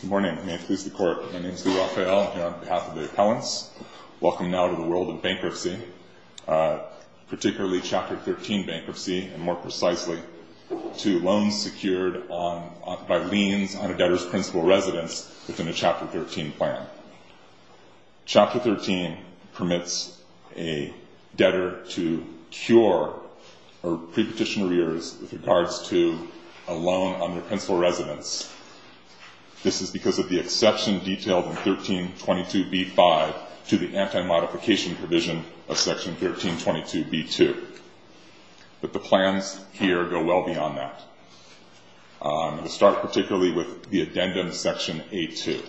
Good morning, may it please the court. My name is Lee Raphael. I'm here on behalf of the appellants. Welcome now to the world of bankruptcy, particularly Chapter 13 bankruptcy, and more precisely to loans secured on by liens on a debtor's principal residence within a Chapter 13 plan. Chapter 13 permits a debtor to cure or pre-petition arrears with regards to a loan on their principal residence. This is because of the exception detailed in 1322b-5 to the anti-modification provision of Section 1322b-2, but the plans here go well beyond that. I'm going to start particularly with the addendum to Section A-2.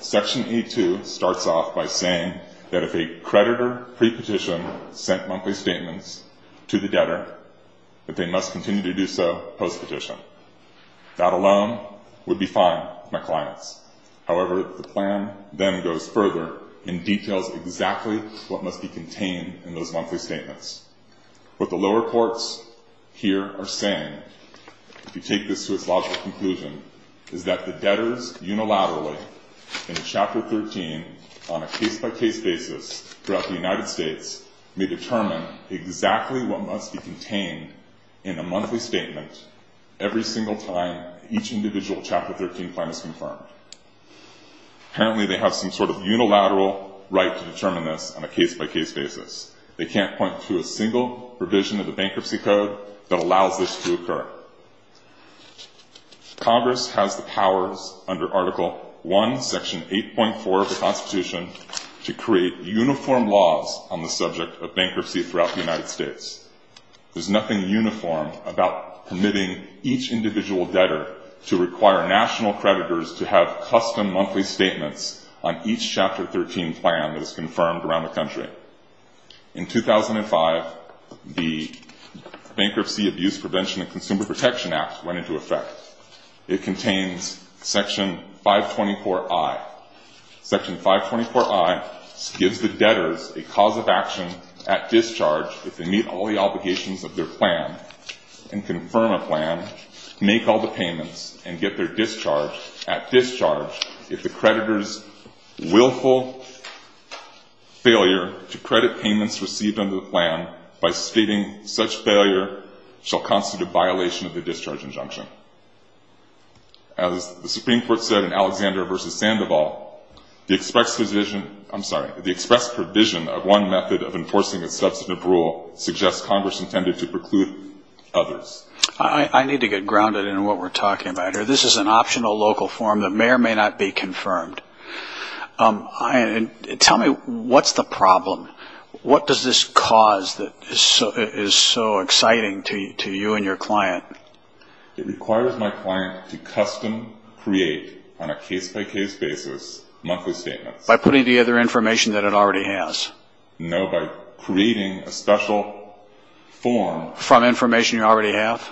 Section A-2 starts off by saying that if a creditor pre-petition sent monthly statements to the debtor that they must continue to do so post-petition. That alone would be fine with my clients. However, the plan then goes further and details exactly what must be contained in those monthly statements. What the lower courts here are saying, if you take this to its logical conclusion, is that the debtors unilaterally in Chapter 13 on a case-by-case basis throughout the United States may determine exactly what must be contained in a monthly statement every single time each individual Chapter 13 plan is confirmed. Apparently they have some sort of unilateral right to determine this on a case-by-case basis. They can't point to a single provision of the Bankruptcy Code that allows this to occur. Congress has the powers under Article 1, Section 8.4 of the Constitution to create uniform laws on the subject of bankruptcy throughout the United States. There's nothing uniform about permitting each individual debtor to require national creditors to have custom monthly statements on each Chapter 13 plan that is confirmed around the country. In 2005, the Bankruptcy Abuse Prevention and Consumer Protection Act went into effect. It contains Section 524I. Section 524I gives the debtors a cause of action at discharge if they meet all the obligations of their plan and confirm a plan, make all the payments, and get their discharge at discharge if the creditor's willful failure to credit payments received under the plan by stating such failure shall constitute violation of the discharge injunction. As the Supreme Court said in Alexander v. Sandoval, the express provision of one method of enforcing a substantive rule suggests Congress intended to preclude others. I need to get grounded in what we're talking about here. This is an optional local form that may or may not be confirmed. Tell me, what's the problem? What does this cause that is so exciting to you and your client? It requires my client to custom create on a case-by-case basis monthly statements. By putting together information that it already has? No, by creating a special form. From information you already have?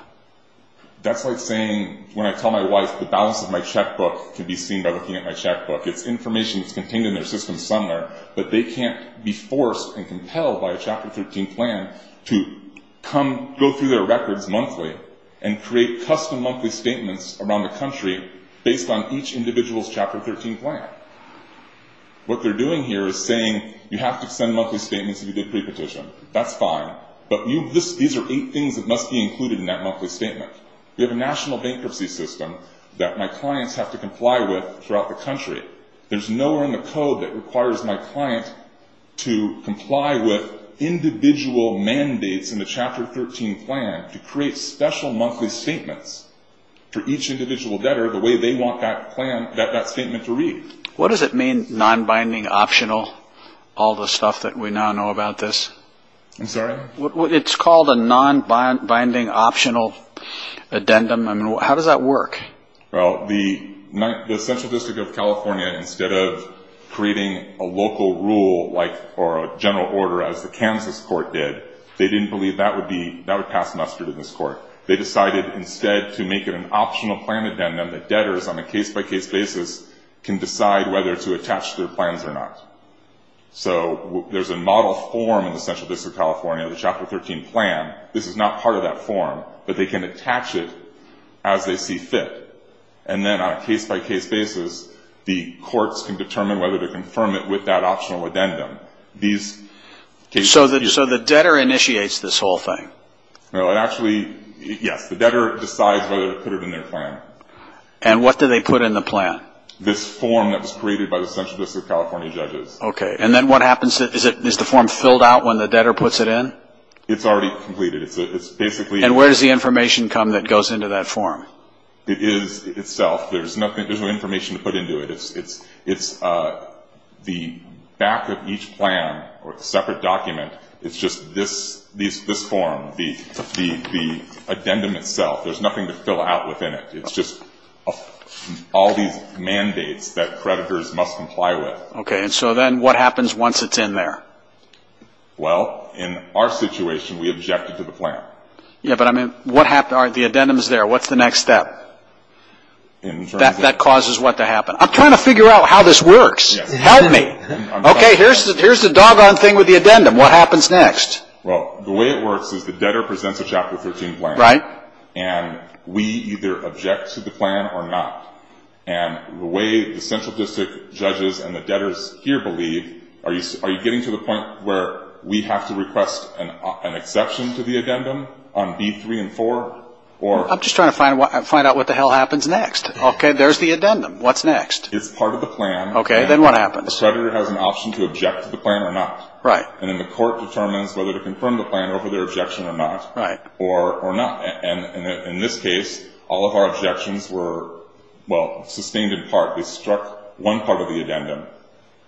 That's like saying when I tell my wife the balance of my checkbook can be seen by looking at my checkbook. It's information that's contained in their system somewhere, but they can't be forced and compelled by a Chapter 13 plan to go through their records monthly and create custom monthly statements around the country based on each individual's Chapter 13 plan. What they're doing here is saying, you have to send monthly statements if you did pre-petition. That's fine, but these are eight things that must be included in that monthly statement. We have a national bankruptcy system that my clients have to comply with throughout the country. There's nowhere in the code that requires my client to comply with individual mandates in the Chapter 13 plan to create special monthly statements for each individual debtor the way they want that statement to read. What does it mean, non-binding optional, all the stuff that we now know about this? I'm sorry? It's called a non-binding optional addendum. How does that work? Well, the Central District of California, instead of creating a local rule or a general order as the Kansas court did, they didn't believe that would pass mustard in this court. They decided instead to make it an optional plan addendum that debtors on a case-by-case basis can decide whether to attach their plans or not. There's a model form in the Central District of California, the Chapter 13 plan. This is not part of that form, but they can attach it as they see fit. Then on a case-by-case basis, the courts can determine whether to confirm it with that optional addendum. So the debtor initiates this whole thing? Yes, the debtor decides whether to put it in their plan. What do they put in the plan? This form that was created by the Central District of California judges. Okay. And then what happens? Is the form filled out when the debtor puts it in? It's already completed. It's basically... And where does the information come that goes into that form? It is itself. There's no information to put into it. It's the back of each plan or separate document. It's just this form, the addendum itself. There's nothing to fill out within it. It's just all these mandates that creditors must comply with. Okay. And so then what happens once it's in there? Well, in our situation, we objected to the plan. Yeah, but I mean, what happened? The addendum is there. What's the next step? That causes what to happen? I'm trying to figure out how this works. Help me. Okay. Here's the doggone thing with the addendum. What happens next? Well, the way it works is the debtor presents a Chapter 13 plan. Right. And we either object to the plan or not. And the way the central district judges and the debtors here believe, are you getting to the point where we have to request an exception to the addendum on B3 and 4? Or... I'm just trying to find out what the hell happens next. Okay. There's the addendum. What's next? It's part of the plan. Okay. Then what happens? The creditor has an option to object to the plan or not. Right. And then the court determines whether to confirm the plan over their objection or not. Right. And in this case, all of our objections were, well, sustained in part. They struck one part of the addendum,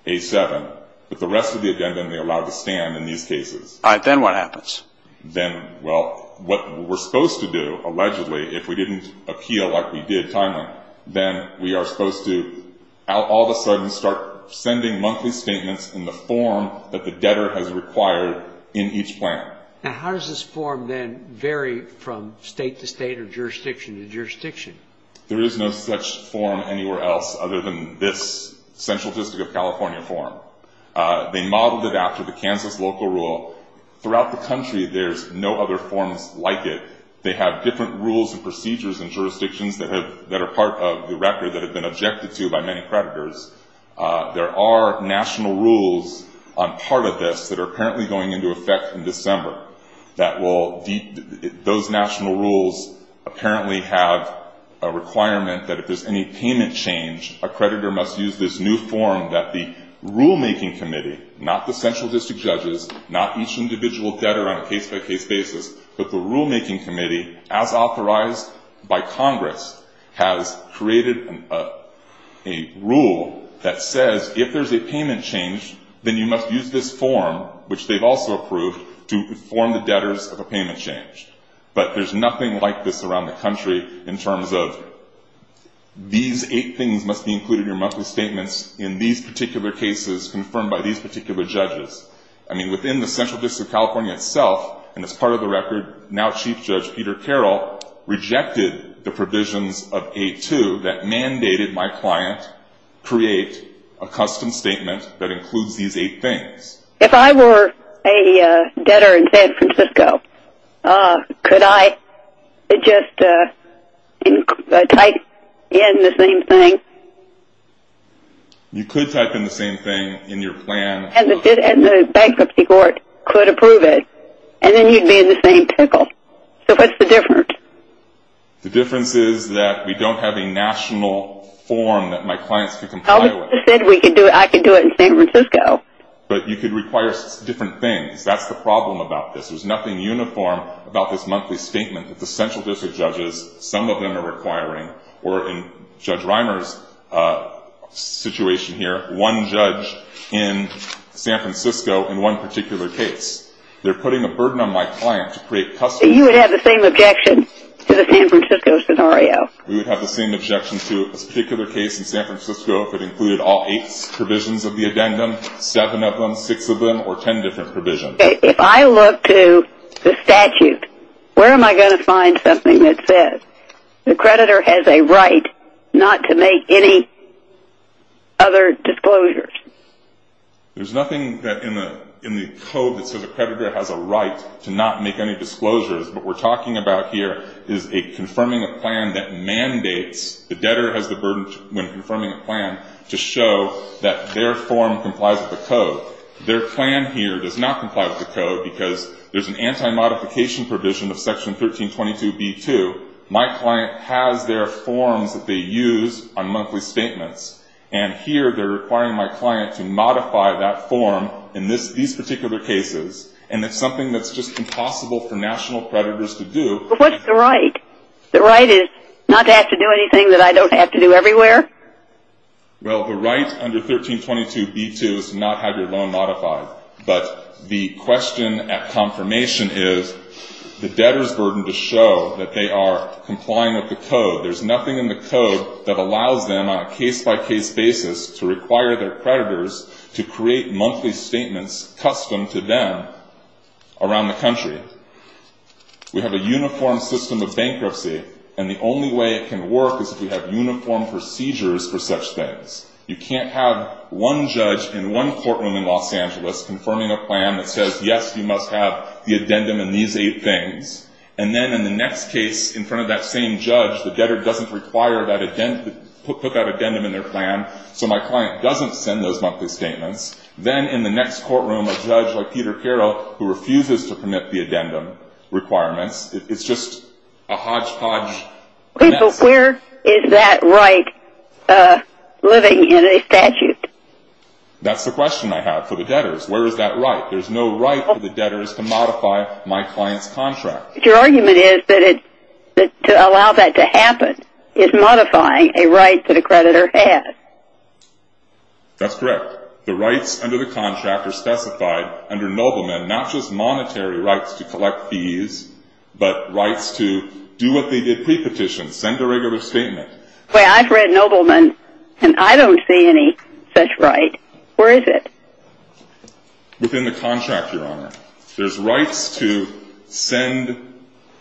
A7. But the rest of the addendum, they allowed to stand in these cases. All right. Then what happens? Then, well, what we're supposed to do, allegedly, if we didn't appeal like we did timely, then we are supposed to all of a sudden start sending monthly statements in the form that the debtor has required in each plan. Now, how does this form then vary from state to state or jurisdiction to jurisdiction? There is no such form anywhere else other than this Central District of California form. They modeled it after the Kansas local rule. Throughout the country, there's no other forms like it. They have different rules and procedures and jurisdictions that are part of the record that have been objected to by many creditors. There are national rules on part of this that are apparently going into effect in December. Those national rules apparently have a requirement that if there's any payment change, a creditor must use this new form that the rulemaking committee, not the Central District judges, not each individual debtor on a case-by-case basis, but the rulemaking committee, as authorized by Congress, has created a rule that says, if there's a payment change, then you must use this form, which they've also approved, to inform the debtors of a payment change. But there's nothing like this around the country in terms of these eight things must be included in your monthly statements in these particular cases confirmed by these particular judges. I mean, within the Central District of California itself, and it's part of the record, now Chief Judge Peter Carroll rejected the provisions of 8-2 that mandated my client create a custom statement that includes these eight things. If I were a debtor in San Francisco, could I just type in the same thing? You could type in the same thing in your plan. And the bankruptcy court could approve it, and then you'd be in the same pickle. So what's the difference? The difference is that we don't have a national form that my clients can comply with. I said I could do it in San Francisco. But you could require different things. That's the problem about this. There's nothing uniform about this monthly statement that the Central District judges, some of them are requiring, or in Judge Reimer's situation here, one judge in San Francisco in one particular case. They're putting a burden on my client to create custom... You would have the same objection to the San Francisco scenario. We would have the same objection to a particular case in San Francisco if it included all eight provisions of the addendum, seven of them, six of them, or ten different provisions. If I look to the statute, where am I going to find something that says the creditor has a right not to make any other disclosures? There's nothing in the code that says a creditor has a right to not make any disclosures. What we're talking about here is a confirming a plan that mandates the debtor has the burden when confirming a plan to show that their form complies with the code. Their plan here does not comply with the code because there's an anti-modification provision of Section 1322b2. My client has their forms that they use on monthly statements. Here, they're requiring my client to modify that form in these particular cases, and it's something that's just impossible for national creditors to do. What's the right? The right is not to have to do anything that I don't have to do everywhere? Well, the right under 1322b2 is to not have your loan modified, but the question at confirmation is the debtor's burden to show that they are to require their creditors to create monthly statements custom to them around the country. We have a uniform system of bankruptcy, and the only way it can work is if we have uniform procedures for such things. You can't have one judge in one courtroom in Los Angeles confirming a plan that says, yes, you must have the addendum in these eight things, and then in the next case, in front of that same judge, the debtor doesn't require that addendum in their plan, so my client doesn't send those monthly statements. Then in the next courtroom, a judge like Peter Carroll, who refuses to commit the addendum requirements, it's just a hodgepodge mess. Where is that right living in a statute? That's the question I have for the debtors. Where is that right? There's no right for the debtors to modify my client's contract. Your argument is that to allow that to happen is modifying a right that a creditor has. That's correct. The rights under the contract are specified under Nobleman, not just monetary rights to collect fees, but rights to do what they did pre-petition, send a regular statement. I've read Nobleman, and I don't see any such right. Where is it? Within the contract, Your Honor. There's rights to send,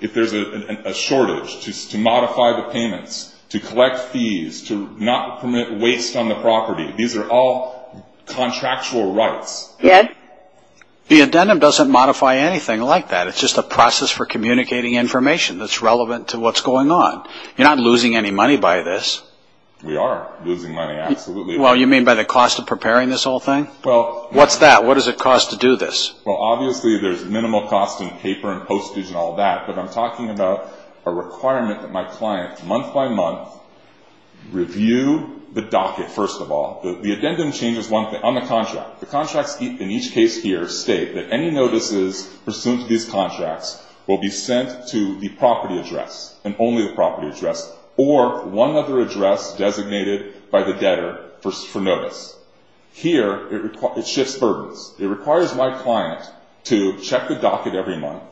if there's a shortage, to modify the payments, to collect fees, to not permit waste on the property. These are all contractual rights. The addendum doesn't modify anything like that. It's just a process for communicating information that's relevant to what's going on. You're not losing any money by this. We are losing money, absolutely. Well, you mean by the cost of preparing this whole thing? What's that? What does it cost to do this? Obviously, there's minimal cost in paper and postage and all that, but I'm talking about a requirement that my client, month by month, review the docket, first of all. The addendum changes one thing on the contract. The contracts in each case here state that any notices pursuant to these contracts will be sent to the property address, and only the property shifts burdens. It requires my client to check the docket every month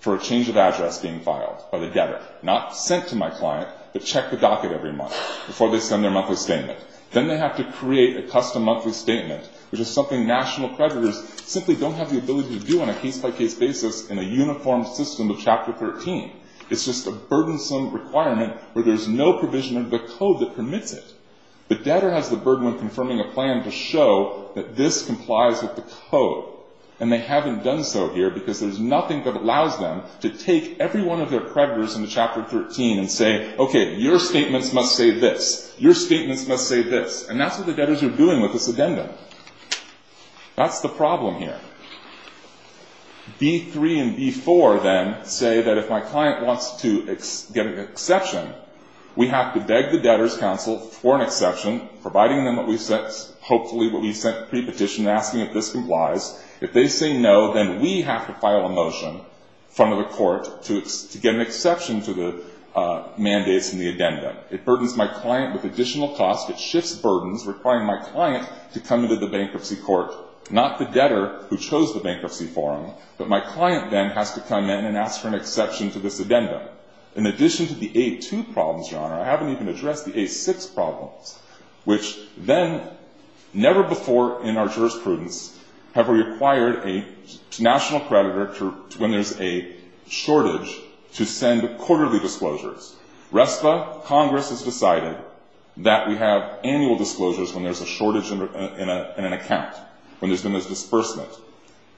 for a change of address being filed by the debtor. Not sent to my client, but check the docket every month before they send their monthly statement. Then they have to create a custom monthly statement, which is something national creditors simply don't have the ability to do on a case-by-case basis in a uniform system of Chapter 13. It's just a burdensome requirement where there's no provision of the code that this complies with the code. They haven't done so here because there's nothing that allows them to take every one of their creditors in the Chapter 13 and say, okay, your statements must say this. Your statements must say this. That's what the debtors are doing with this addendum. That's the problem here. B3 and B4 then say that if my client wants to get an exception, we have to beg the debtor's counsel for an exception, providing them hopefully what we sent pre-petition asking if this complies. If they say no, then we have to file a motion in front of the court to get an exception to the mandates in the addendum. It burdens my client with additional cost. It shifts burdens, requiring my client to come to the bankruptcy court, not the debtor who chose the bankruptcy forum, but my client then has to come in and ask for an exception to this addendum. In addition to the A2 problems, Your Honor, I haven't even addressed the A6 problems, which then never before in our jurisprudence have required a national creditor when there's a shortage to send quarterly disclosures. RESTLA, Congress has decided that we have annual disclosures when there's a shortage in an account, when there's been this disbursement.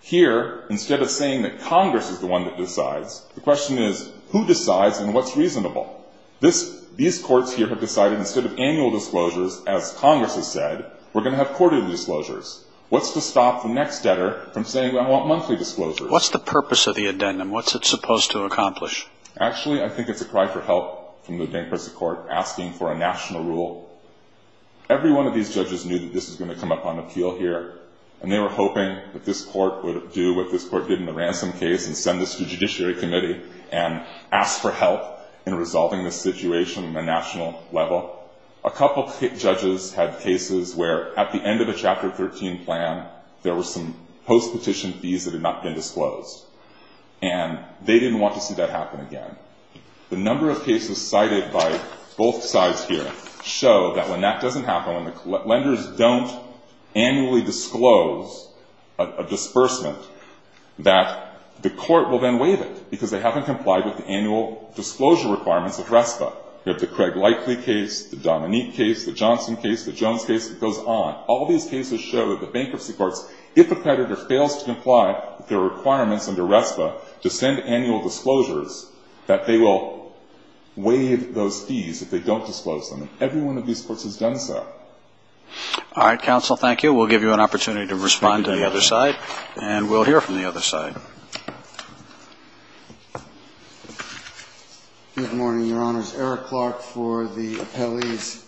Here, instead of saying that Congress is the one that decides, the question is, who decides and what's reasonable? These courts here have decided instead of annual disclosures, as Congress has said, we're going to have quarterly disclosures. What's to stop the next debtor from saying, I want monthly disclosures? What's the purpose of the addendum? What's it supposed to accomplish? Actually, I think it's a cry for help from the bankruptcy court asking for a national rule. Every one of these judges knew that this is going to come up on appeal here. They were hoping that this court would do what this court did in the ransom case and send this to Judiciary Committee and ask for help in resolving the situation on a national level. A couple of judges had cases where at the end of a Chapter 13 plan, there were some post-petition fees that had not been disclosed. They didn't want to see that happen again. The number of cases cited by both sides here show that when that doesn't happen, when the court doesn't annually disclose a disbursement, that the court will then waive it because they haven't complied with the annual disclosure requirements of RESPA. You have the Craig Lightly case, the Dominique case, the Johnson case, the Jones case, it goes on. All these cases show that the bankruptcy courts, if a creditor fails to comply with their requirements under RESPA, to send annual disclosures, that they will waive those fees if they don't disclose them. Every one of these courts has done so. All right, counsel, thank you. We'll give you an opportunity to respond to the other side, and we'll hear from the other side. Good morning, Your Honors. Eric Clark for the appellees.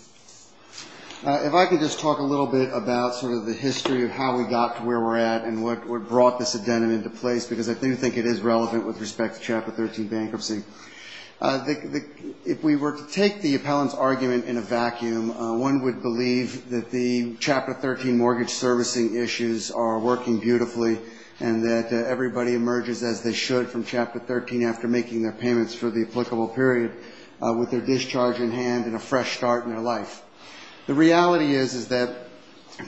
If I could just talk a little bit about sort of the history of how we got to where we're at and what brought this addendum into place because I do think it is relevant with respect to Chapter 13 bankruptcy. If we were to take the vacuum, one would believe that the Chapter 13 mortgage servicing issues are working beautifully and that everybody emerges as they should from Chapter 13 after making their payments for the applicable period with their discharge in hand and a fresh start in their life. The reality is that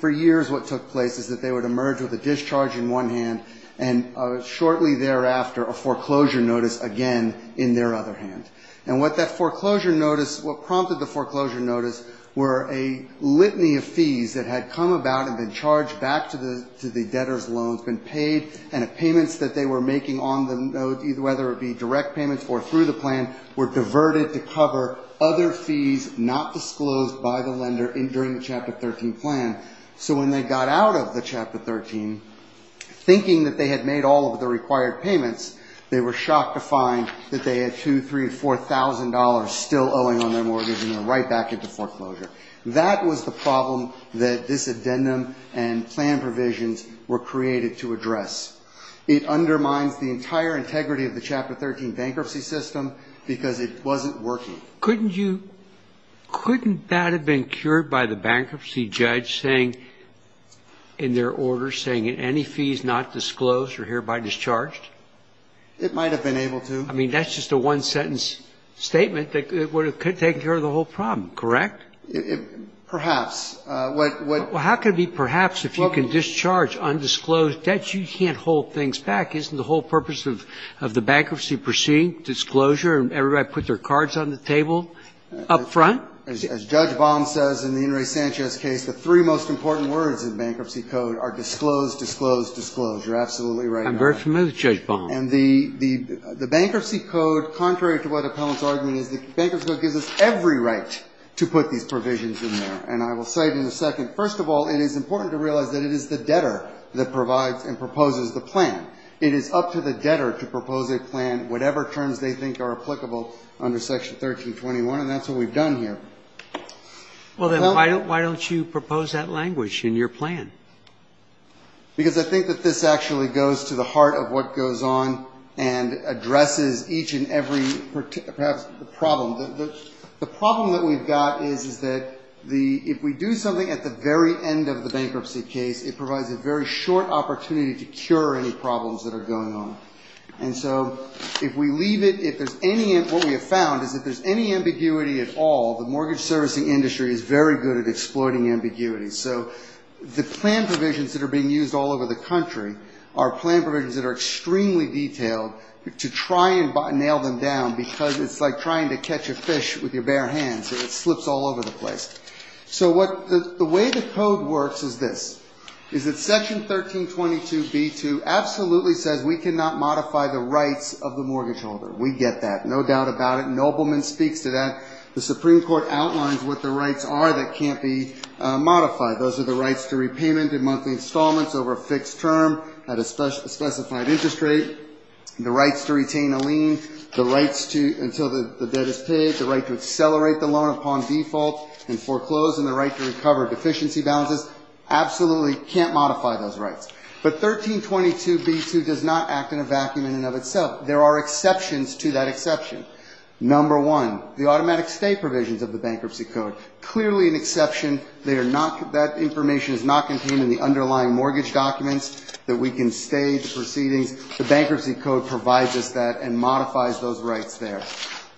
for years what took place is that they would emerge with a discharge in one hand and shortly thereafter a foreclosure notice again in their other hand. And what that foreclosure notice, what prompted the foreclosure notice were a litany of fees that had come about and been charged back to the debtor's loans, been paid, and the payments that they were making on them, whether it be direct payments or through the plan, were diverted to cover other fees not disclosed by the lender during the Chapter 13 plan. So when they got out of the Chapter 13, thinking that they had made all of the required payments, they were shocked to find that they had $2,000, $3,000, $4,000 still owing on their mortgage and they're right back into foreclosure. That was the problem that this addendum and plan provisions were created to address. It undermines the entire integrity of the Chapter 13 bankruptcy system because it wasn't working. Couldn't you, couldn't that have been cured by the bankruptcy judge saying, in their order, saying any fees not disclosed are hereby discharged? It might have been able to. I mean, that's just a one-sentence statement that it could have taken care of the whole problem, correct? Perhaps. Well, how could it be perhaps if you can discharge undisclosed debt? You can't hold things back. Isn't the whole purpose of the bankruptcy proceeding, disclosure, and everybody put their cards on the table up front? As Judge Baum says in the In re Sanchez case, the three most important words in bankruptcy code are disclose, disclose, disclosure. Absolutely right. I'm very familiar with Judge Baum. And the bankruptcy code, contrary to what Appellant's argument is, the bankruptcy code gives us every right to put these provisions in there. And I will say in a second, first of all, it is important to realize that it is the debtor that provides and proposes the plan. It is up to the debtor to propose a plan, whatever terms they think are applicable under Section 1321. And that's what we've done here. Well, then why don't you propose that language in your plan? Because I think that this actually goes to the heart of what goes on and addresses each and every, perhaps, problem. The problem that we've got is that if we do something at the very end of the bankruptcy case, it provides a very short opportunity to cure any problems that are going on. And so if we leave it, if there's any, what we have found is if there's any ambiguity at all, the mortgage servicing industry is very good at that. The plan provisions that are being used all over the country are plan provisions that are extremely detailed to try and nail them down, because it's like trying to catch a fish with your bare hands. It slips all over the place. So the way the code works is this, is that Section 1322b2 absolutely says we cannot modify the rights of the mortgage holder. We get that, no doubt about it. Nobleman speaks to that. The Supreme Court outlines what the rights are that can't be modified. Those are the rights to repayment in monthly installments over a fixed term at a specified interest rate, the rights to retain a lien, the rights until the debt is paid, the right to accelerate the loan upon default and foreclose, and the right to recover deficiency balances. Absolutely can't modify those rights. But 1322b2 does not act in a vacuum in and of itself. There are exceptions to that exception. Number one, the automatic stay provisions of the bankruptcy code, clearly an exception. That information is not contained in the underlying mortgage documents that we can stay, the proceedings. The bankruptcy code provides us that and modifies those rights there.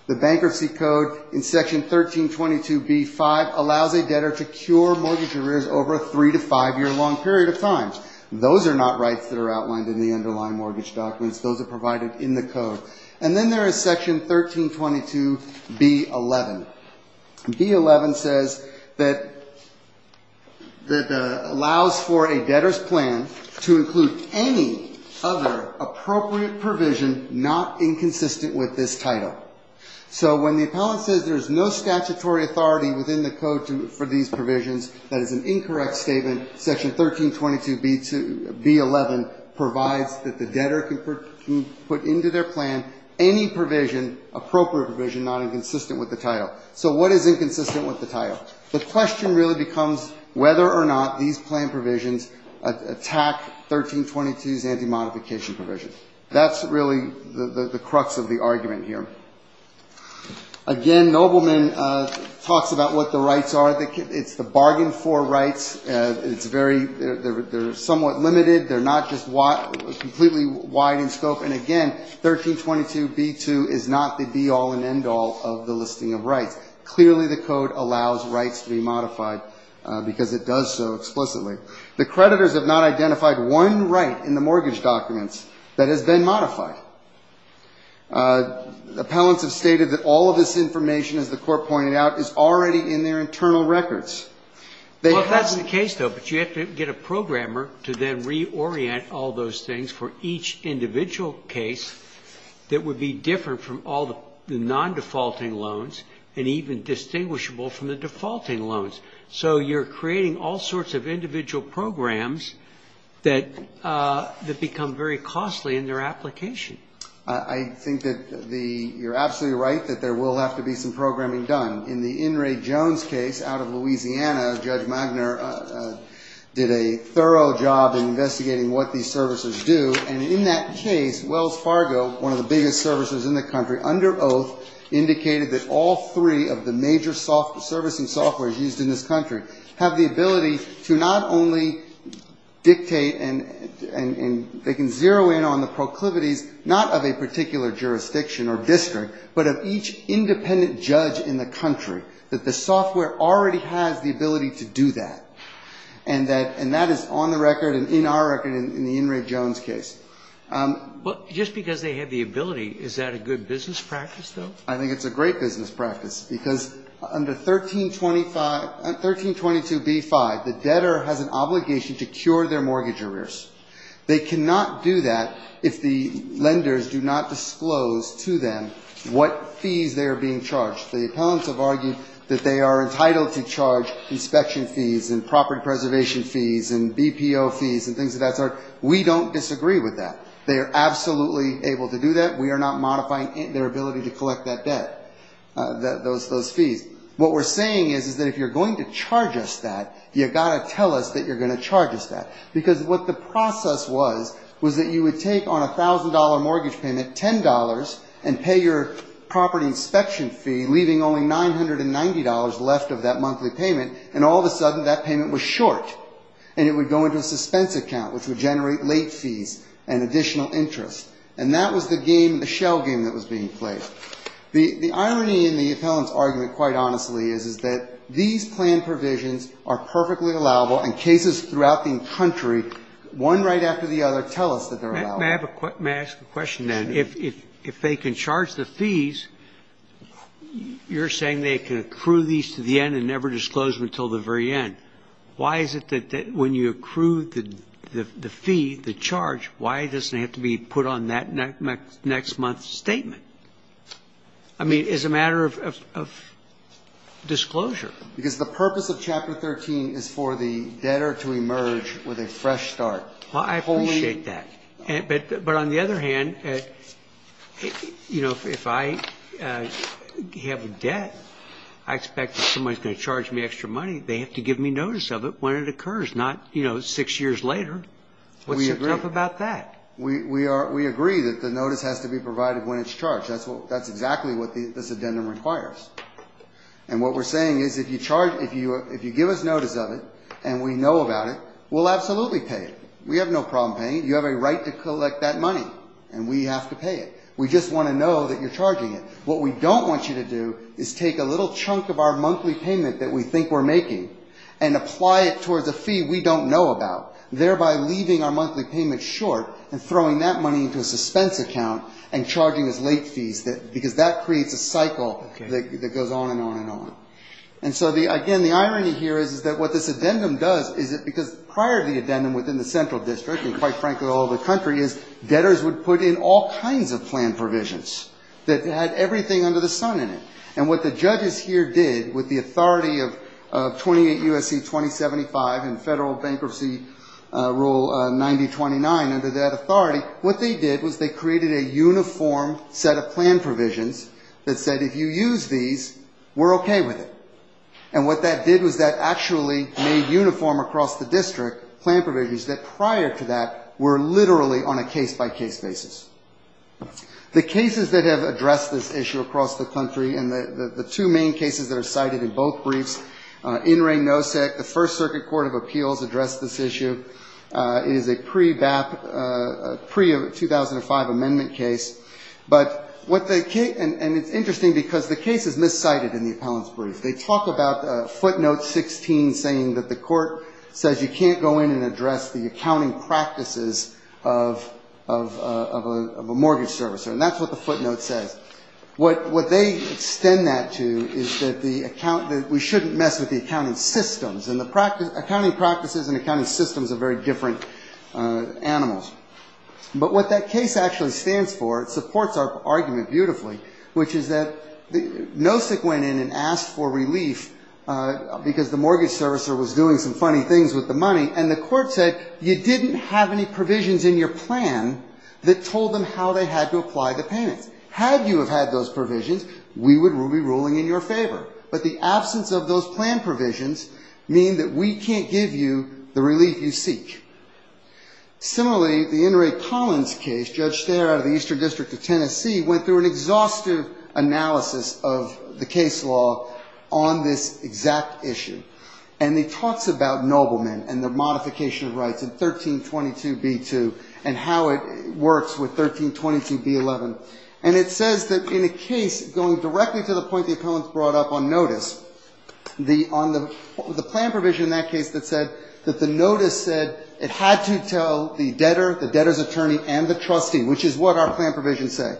The bankruptcy code in Section 1322b5 allows a debtor to cure mortgage arrears over a three- to five-year-long period of time. Those are not rights that are outlined in the underlying mortgage documents. Those are provided in the code. And then there is Section 1322b11. B11 says that it allows for a debtor's plan to include any other appropriate provision not inconsistent with this title. So when the appellant says there is no statutory authority within the code for these provisions, that is an any provision, appropriate provision, not inconsistent with the title. So what is inconsistent with the title? The question really becomes whether or not these plan provisions attack 1322's anti-modification provision. That's really the crux of the argument here. Again, Nobleman talks about what the rights are. It's the bargain-for rights. It's very they're somewhat limited. They're not just completely wide in scope. And again, 1322b2 is not the be-all and end-all of the listing of rights. Clearly, the code allows rights to be modified because it does so explicitly. The creditors have not identified one right in the mortgage documents that has been modified. Appellants have stated that all of this information, as the Court pointed out, is already in their internal records. They have to… Well, if that's the case, though, but you have to get a programmer to then reorient all those things for each individual case that would be different from all the non-defaulting loans and even distinguishable from the defaulting loans. So you're creating all sorts of individual programs that become very costly in their application. I think that you're absolutely right that there will have to be some programming done. In the In re. Jones case out of Louisiana, Judge Magner did a thorough job investigating what these servicers do. And in that case, Wells Fargo, one of the biggest servicers in the country, under oath, indicated that all three of the major servicing softwares used in this country have the ability to not only dictate and they can zero in on the proclivities, not of a particular jurisdiction or district, but of each independent judge in the country, that the software already has the ability to do that. And that is on the record and in our record in the In re. Jones case. Well, just because they have the ability, is that a good business practice, though? I think it's a great business practice, because under 1322b-5, the debtor has an obligation to cure their mortgage arrears. They cannot do that if the lenders do not disclose to them what fees they are being charged. The appellants have argued that they are entitled to charge inspection fees and property preservation fees and BPO fees and things of that sort. We don't disagree with that. They are absolutely able to do that. We are not modifying their ability to collect that debt, those fees. What we're saying is that if you're going to charge us that, you've got to tell us that you're going to charge us that. Because what the process was, was that you would take on property inspection fee, leaving only $990 left of that monthly payment, and all of a sudden that payment was short. And it would go into a suspense account, which would generate late fees and additional interest. And that was the game, the shell game that was being played. The irony in the appellant's argument, quite honestly, is that these plan provisions are perfectly allowable, and cases throughout the country, one right after the other, tell us that they're allowable. May I ask a question then? If they can charge the fees, you're saying they can accrue these to the end and never disclose them until the very end. Why is it that when you accrue the fee, the charge, why doesn't it have to be put on that next month's statement? I mean, it's a matter of disclosure. Because the purpose of Chapter 13 is for the debtor to emerge with a fresh start. Well, I appreciate that. But on the other hand, you know, if I have a debt, I expect that somebody's going to charge me extra money. They have to give me notice of it when it occurs, not, you know, six years later. What's so tough about that? We agree that the notice has to be provided when it's charged. That's exactly what this addendum requires. And what we're saying is if you give us notice of it, and we know about it, we'll absolutely pay it. We have no problem paying it. You have a right to collect that money, and we have to pay it. We just want to know that you're charging it. What we don't want you to do is take a little chunk of our monthly payment that we think we're making and apply it towards a fee we don't know about, thereby leaving our monthly payment short and throwing that money into a suspense account and charging us late fees, because that creates a cycle that goes on and on and on. And so, again, the irony here is that what this addendum does is that because prior to the addendum within the Central District, and quite frankly all the country, is debtors would put in all kinds of plan provisions that had everything under the sun in it. And what the judges here did with the authority of 28 U.S.C. 2075 and Federal Bankruptcy Rule 9029 under that authority, what they did was they created a uniform set of plan provisions that said if you use these, we're okay with it. And what that did was that actually made uniform across the district plan provisions that prior to that were literally on a case-by-case basis. The cases that have addressed this issue across the country, and the two main cases that are cited in both briefs, NRA NOSEC, the First Circuit Court of Appeals addressed this issue. It is a pre-2005 amendment case. And it's interesting because the case is miscited in the appellant's brief. They talk about footnote 16 saying that the court says you can't go in and address the accounting practices of a mortgage servicer. And that's what the footnote says. What they extend that to is that we shouldn't mess with the accounting systems. And the accounting practices and accounting systems are very different animals. But what that case actually stands for, it supports our argument beautifully, which is that NOSEC went in and asked for relief because the mortgage servicer was doing some funny things with the money. And the court said you didn't have any provisions in your plan that told them how they had to apply the payments. Had you had those provisions, we would be ruling in your favor. But the absence of those plan provisions mean that we can't give you the relief you seek. Similarly, the In re Collins case, Judge Stare out of the Eastern District of Tennessee went through an exhaustive analysis of the case law on this exact issue. And he talks about noblemen and their modification of rights in 1322b2 and how it works with 1322b11. And it says that in a case going directly to the point the appellant brought up on notice, on the plan provision in that case that said that the notice said it had to tell the debtor, the debtor's attorney and the trustee, which is what our plan provisions say.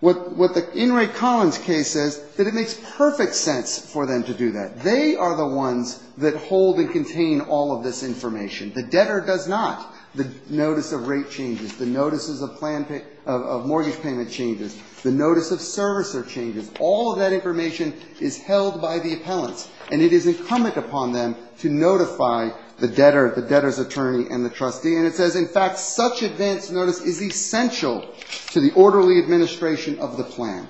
What the In re Collins case says, that it makes perfect sense for them to do that. They are the ones that hold and contain all of this information. The debtor does not. The notice of rate changes, the notices of mortgage payment changes, the notice of servicer changes. All of that information is held by the debtor's attorney and the trustee. And it says, in fact, such advance notice is essential to the orderly administration of the plan.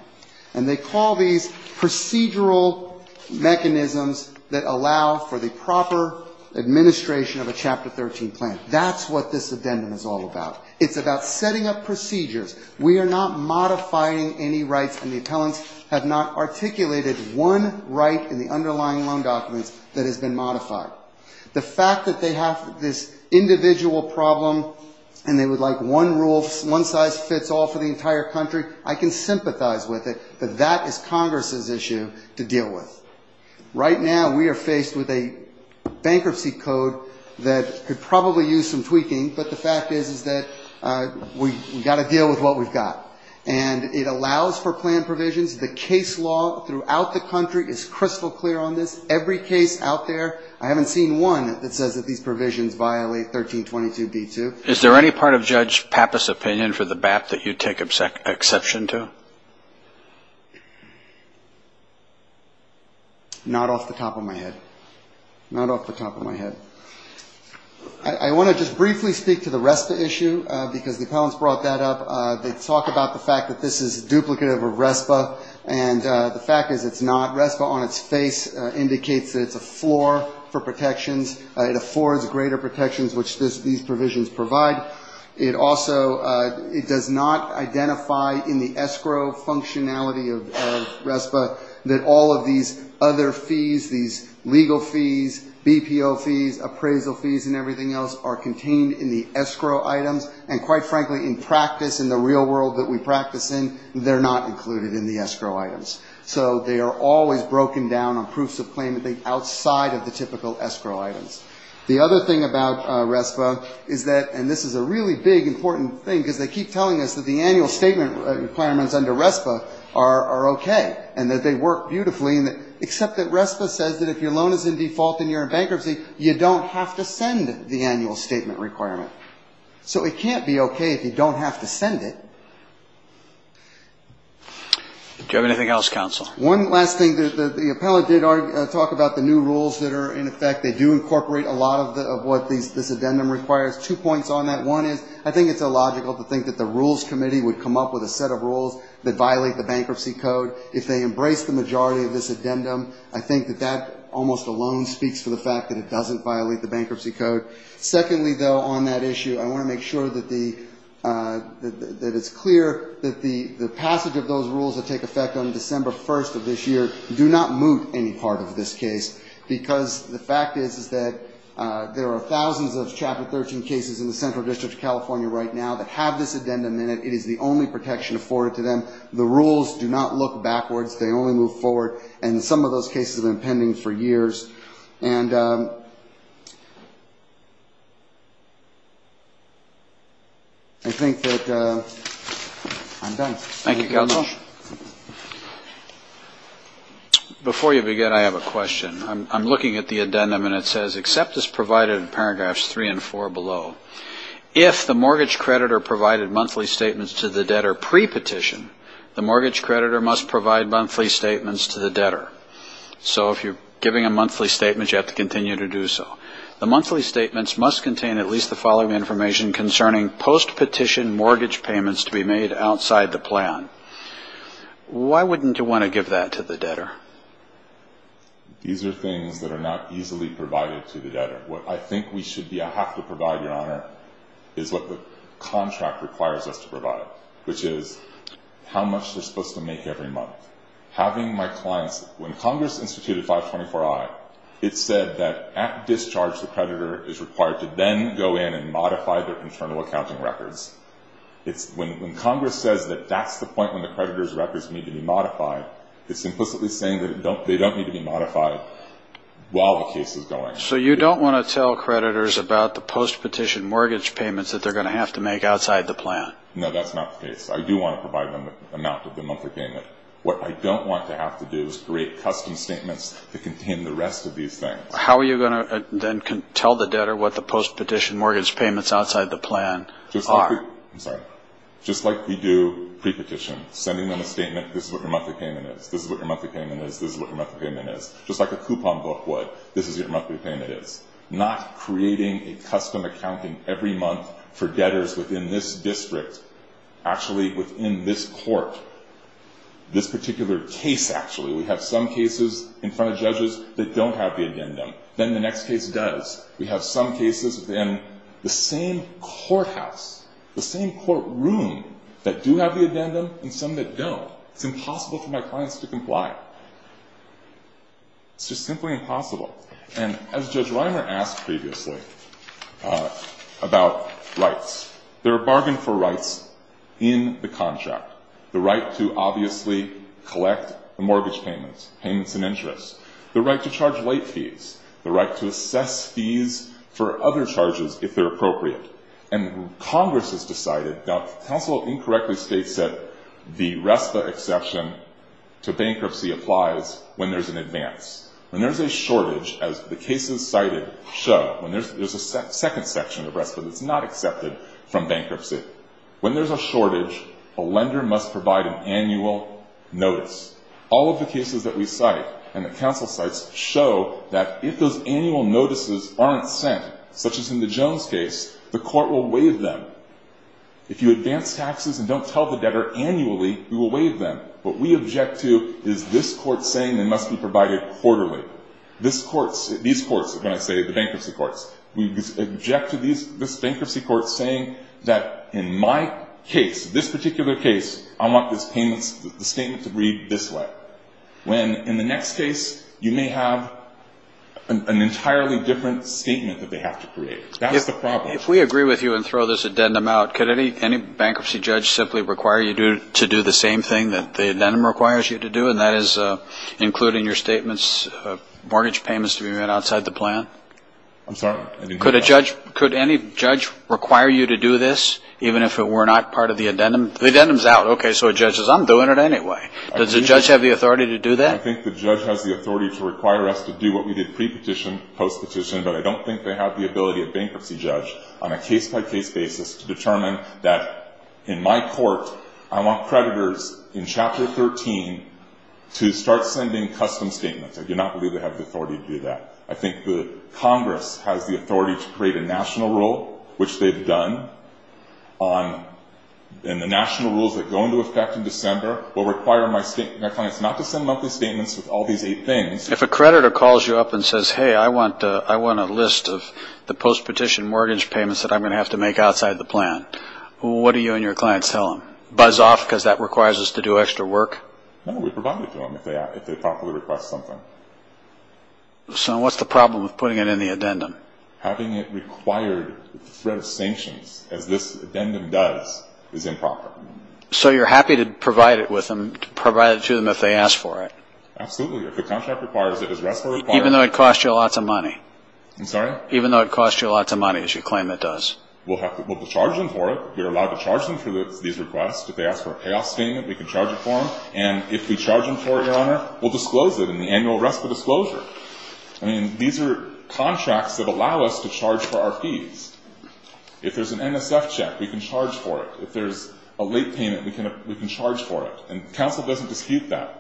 And they call these procedural mechanisms that allow for the proper administration of a Chapter 13 plan. That's what this addendum is all about. It's about setting up procedures. We are not modifying any rights, and the appellants have not articulated one right in the underlying loan documents that has been modified. The fact that they have this individual problem and they would like one rule, one size fits all for the entire country, I can sympathize with it, but that is Congress's issue to deal with. Right now we are faced with a bankruptcy code that could probably use some tweaking, but the fact is that we've got to deal with what we've got. And it allows for plan provisions. The case law throughout the country is crystal clear on this. Every case out there, I haven't seen one that says that these provisions violate 1322b2. Is there any part of Judge Pappas' opinion for the BAP that you take exception to? Not off the top of my head. Not off the top of my head. I want to just briefly speak to the RESPA issue, because the appellants brought that up. They talk about the fact that this is duplicative of RESPA, and the fact is it's not. RESPA on its face indicates that it's a floor for protections. It affords greater protections, which these provisions provide. It also does not identify in the escrow functionality of RESPA that all of these other fees, these legal fees, BPO fees, appraisal fees, and everything else are contained in the escrow items, and quite frankly, in practice, in the real world that we practice in, they're not included in the escrow items. So they are always broken down on proofs of claim outside of the typical escrow items. The other thing about RESPA is that, and this is a really big, important thing, because they keep telling us that the annual statement requirements under RESPA are okay, and that they work beautifully, except that RESPA says that if your loan is in default and you're in bankruptcy, you don't have to send the annual statement requirement. So it can't be okay if you don't have to send it. Do you have anything else, counsel? One last thing. The appellant did talk about the new rules that are in effect. They do incorporate a lot of what this addendum requires. Two points on that. One is I think it's illogical to think that the Rules Committee would come up with a set of rules that violate the bankruptcy code. If they embrace the majority of this addendum, I think that that almost alone speaks for the fact that it doesn't violate the bankruptcy code. Secondly, though, on that issue, I want to make sure that it's clear that the passage of those rules that take effect on December 1st of this year do not moot any part of this case, because the fact is that there are thousands of Chapter 13 cases in the Central District of California that have been pending this addendum, and it is the only protection afforded to them. The rules do not look backwards. They only move forward. And some of those cases have been pending for years. And I think that I'm done. Thank you, counsel. Before you begin, I have a question. I'm looking at the addendum, and it says, except as provided in the monthly statements to the debtor pre-petition, the mortgage creditor must provide monthly statements to the debtor. So if you're giving a monthly statement, you have to continue to do so. The monthly statements must contain at least the following information concerning post-petition mortgage payments to be made outside the plan. Why wouldn't you want to give that to the debtor? These are things that are not easily provided to the debtor. What I think we should be or have to provide, Your Honor, is what the contract requires us to provide, which is how much they're supposed to make every month. When Congress instituted 524-I, it said that at discharge, the creditor is required to then go in and modify their internal accounting records. When Congress says that that's the point when the creditor's records need to be modified, it's implicitly saying that they don't need to be modified while the case is going. So you don't want to tell creditors about the post-petition mortgage payments that they're going to have to make outside the plan? No, that's not the case. I do want to provide them the amount of the monthly payment. What I don't want to have to do is create custom statements that contain the rest of these things. How are you going to then tell the debtor what the post-petition mortgage payments outside the plan are? Just like we do pre-petition, sending them a statement, this is what your monthly payment is, this is what your monthly payment is, this is what your monthly payment is. Just like a coupon book would, this is what your monthly payment is. Not creating a custom accounting every month for debtors within this district, actually within this court, this particular case actually. We have some cases in front of judges that don't have the addendum. Then the next case does. We have some cases within the same courthouse, the same courtroom that do have the addendum and some that don't. It's impossible for my clients to comply. It's just simply impossible. And as Judge Reimer asked previously about rights, there are bargains for rights in the contract. The right to obviously collect the mortgage payments, payments in interest. The right to charge late fees. The right to assess fees for other charges. If they're appropriate. And Congress has decided. Now, counsel incorrectly states that the RESPA exception to bankruptcy applies when there's an advance. When there's a shortage, as the cases cited show, when there's a second section of RESPA that's not accepted from bankruptcy. When there's a shortage, a lender must provide an annual notice. All of the cases that we cite and that include the Jones case, the court will waive them. If you advance taxes and don't tell the debtor annually, we will waive them. What we object to is this court saying they must be provided quarterly. These courts are going to say, the bankruptcy courts. We object to this bankruptcy court saying that in my case, this particular case, I want this statement to read this way. When in the next case, you may have an entirely different statement that they have to create. If we agree with you and throw this addendum out, could any bankruptcy judge simply require you to do the same thing that the addendum requires you to do, and that is including your statements, mortgage payments to be made outside the plan? I'm sorry, I didn't hear that. Could any judge require you to do this, even if it were not part of the addendum? The addendum's out. Okay, so a judge says, I'm doing it anyway. Does the judge have the authority to do that? I think the judge has the authority to require us to do what we did pre-petition, post-petition, but I don't think they have the ability of bankruptcy judge on a case-by-case basis to determine that in my court, I want creditors in Chapter 13 to start sending custom statements. I do not believe they have the authority to do that. I think the Congress has the authority to create a national rule, which they've done, and the national rules that go into effect in Chapter 13 are the same. If a creditor calls you up and says, hey, I want a list of the post-petition mortgage payments that I'm going to have to make outside the plan, what do you and your clients tell them? Buzz off because that requires us to do extra work? No, we provide it to them if they thoughtfully request something. So what's the problem with putting it in the addendum? Having it required with the threat of sanctions, as this addendum does, is improper. So you're happy to provide it with them, to provide it to them if they ask for it? Absolutely. If the contract requires it, as RESPA requires it. Even though it costs you lots of money? I'm sorry? Even though it costs you lots of money, as you claim it does. We'll charge them for it. We're allowed to charge them for these requests. If they ask for a payoff statement, we can charge it for them. And if we charge them for it, Your Honor, we'll disclose it in the annual RESPA disclosure. These are contracts that allow us to charge for our fees. If there's an NSF check, we can charge for it. If there's a late payment, we can charge for it. And counsel doesn't dispute that.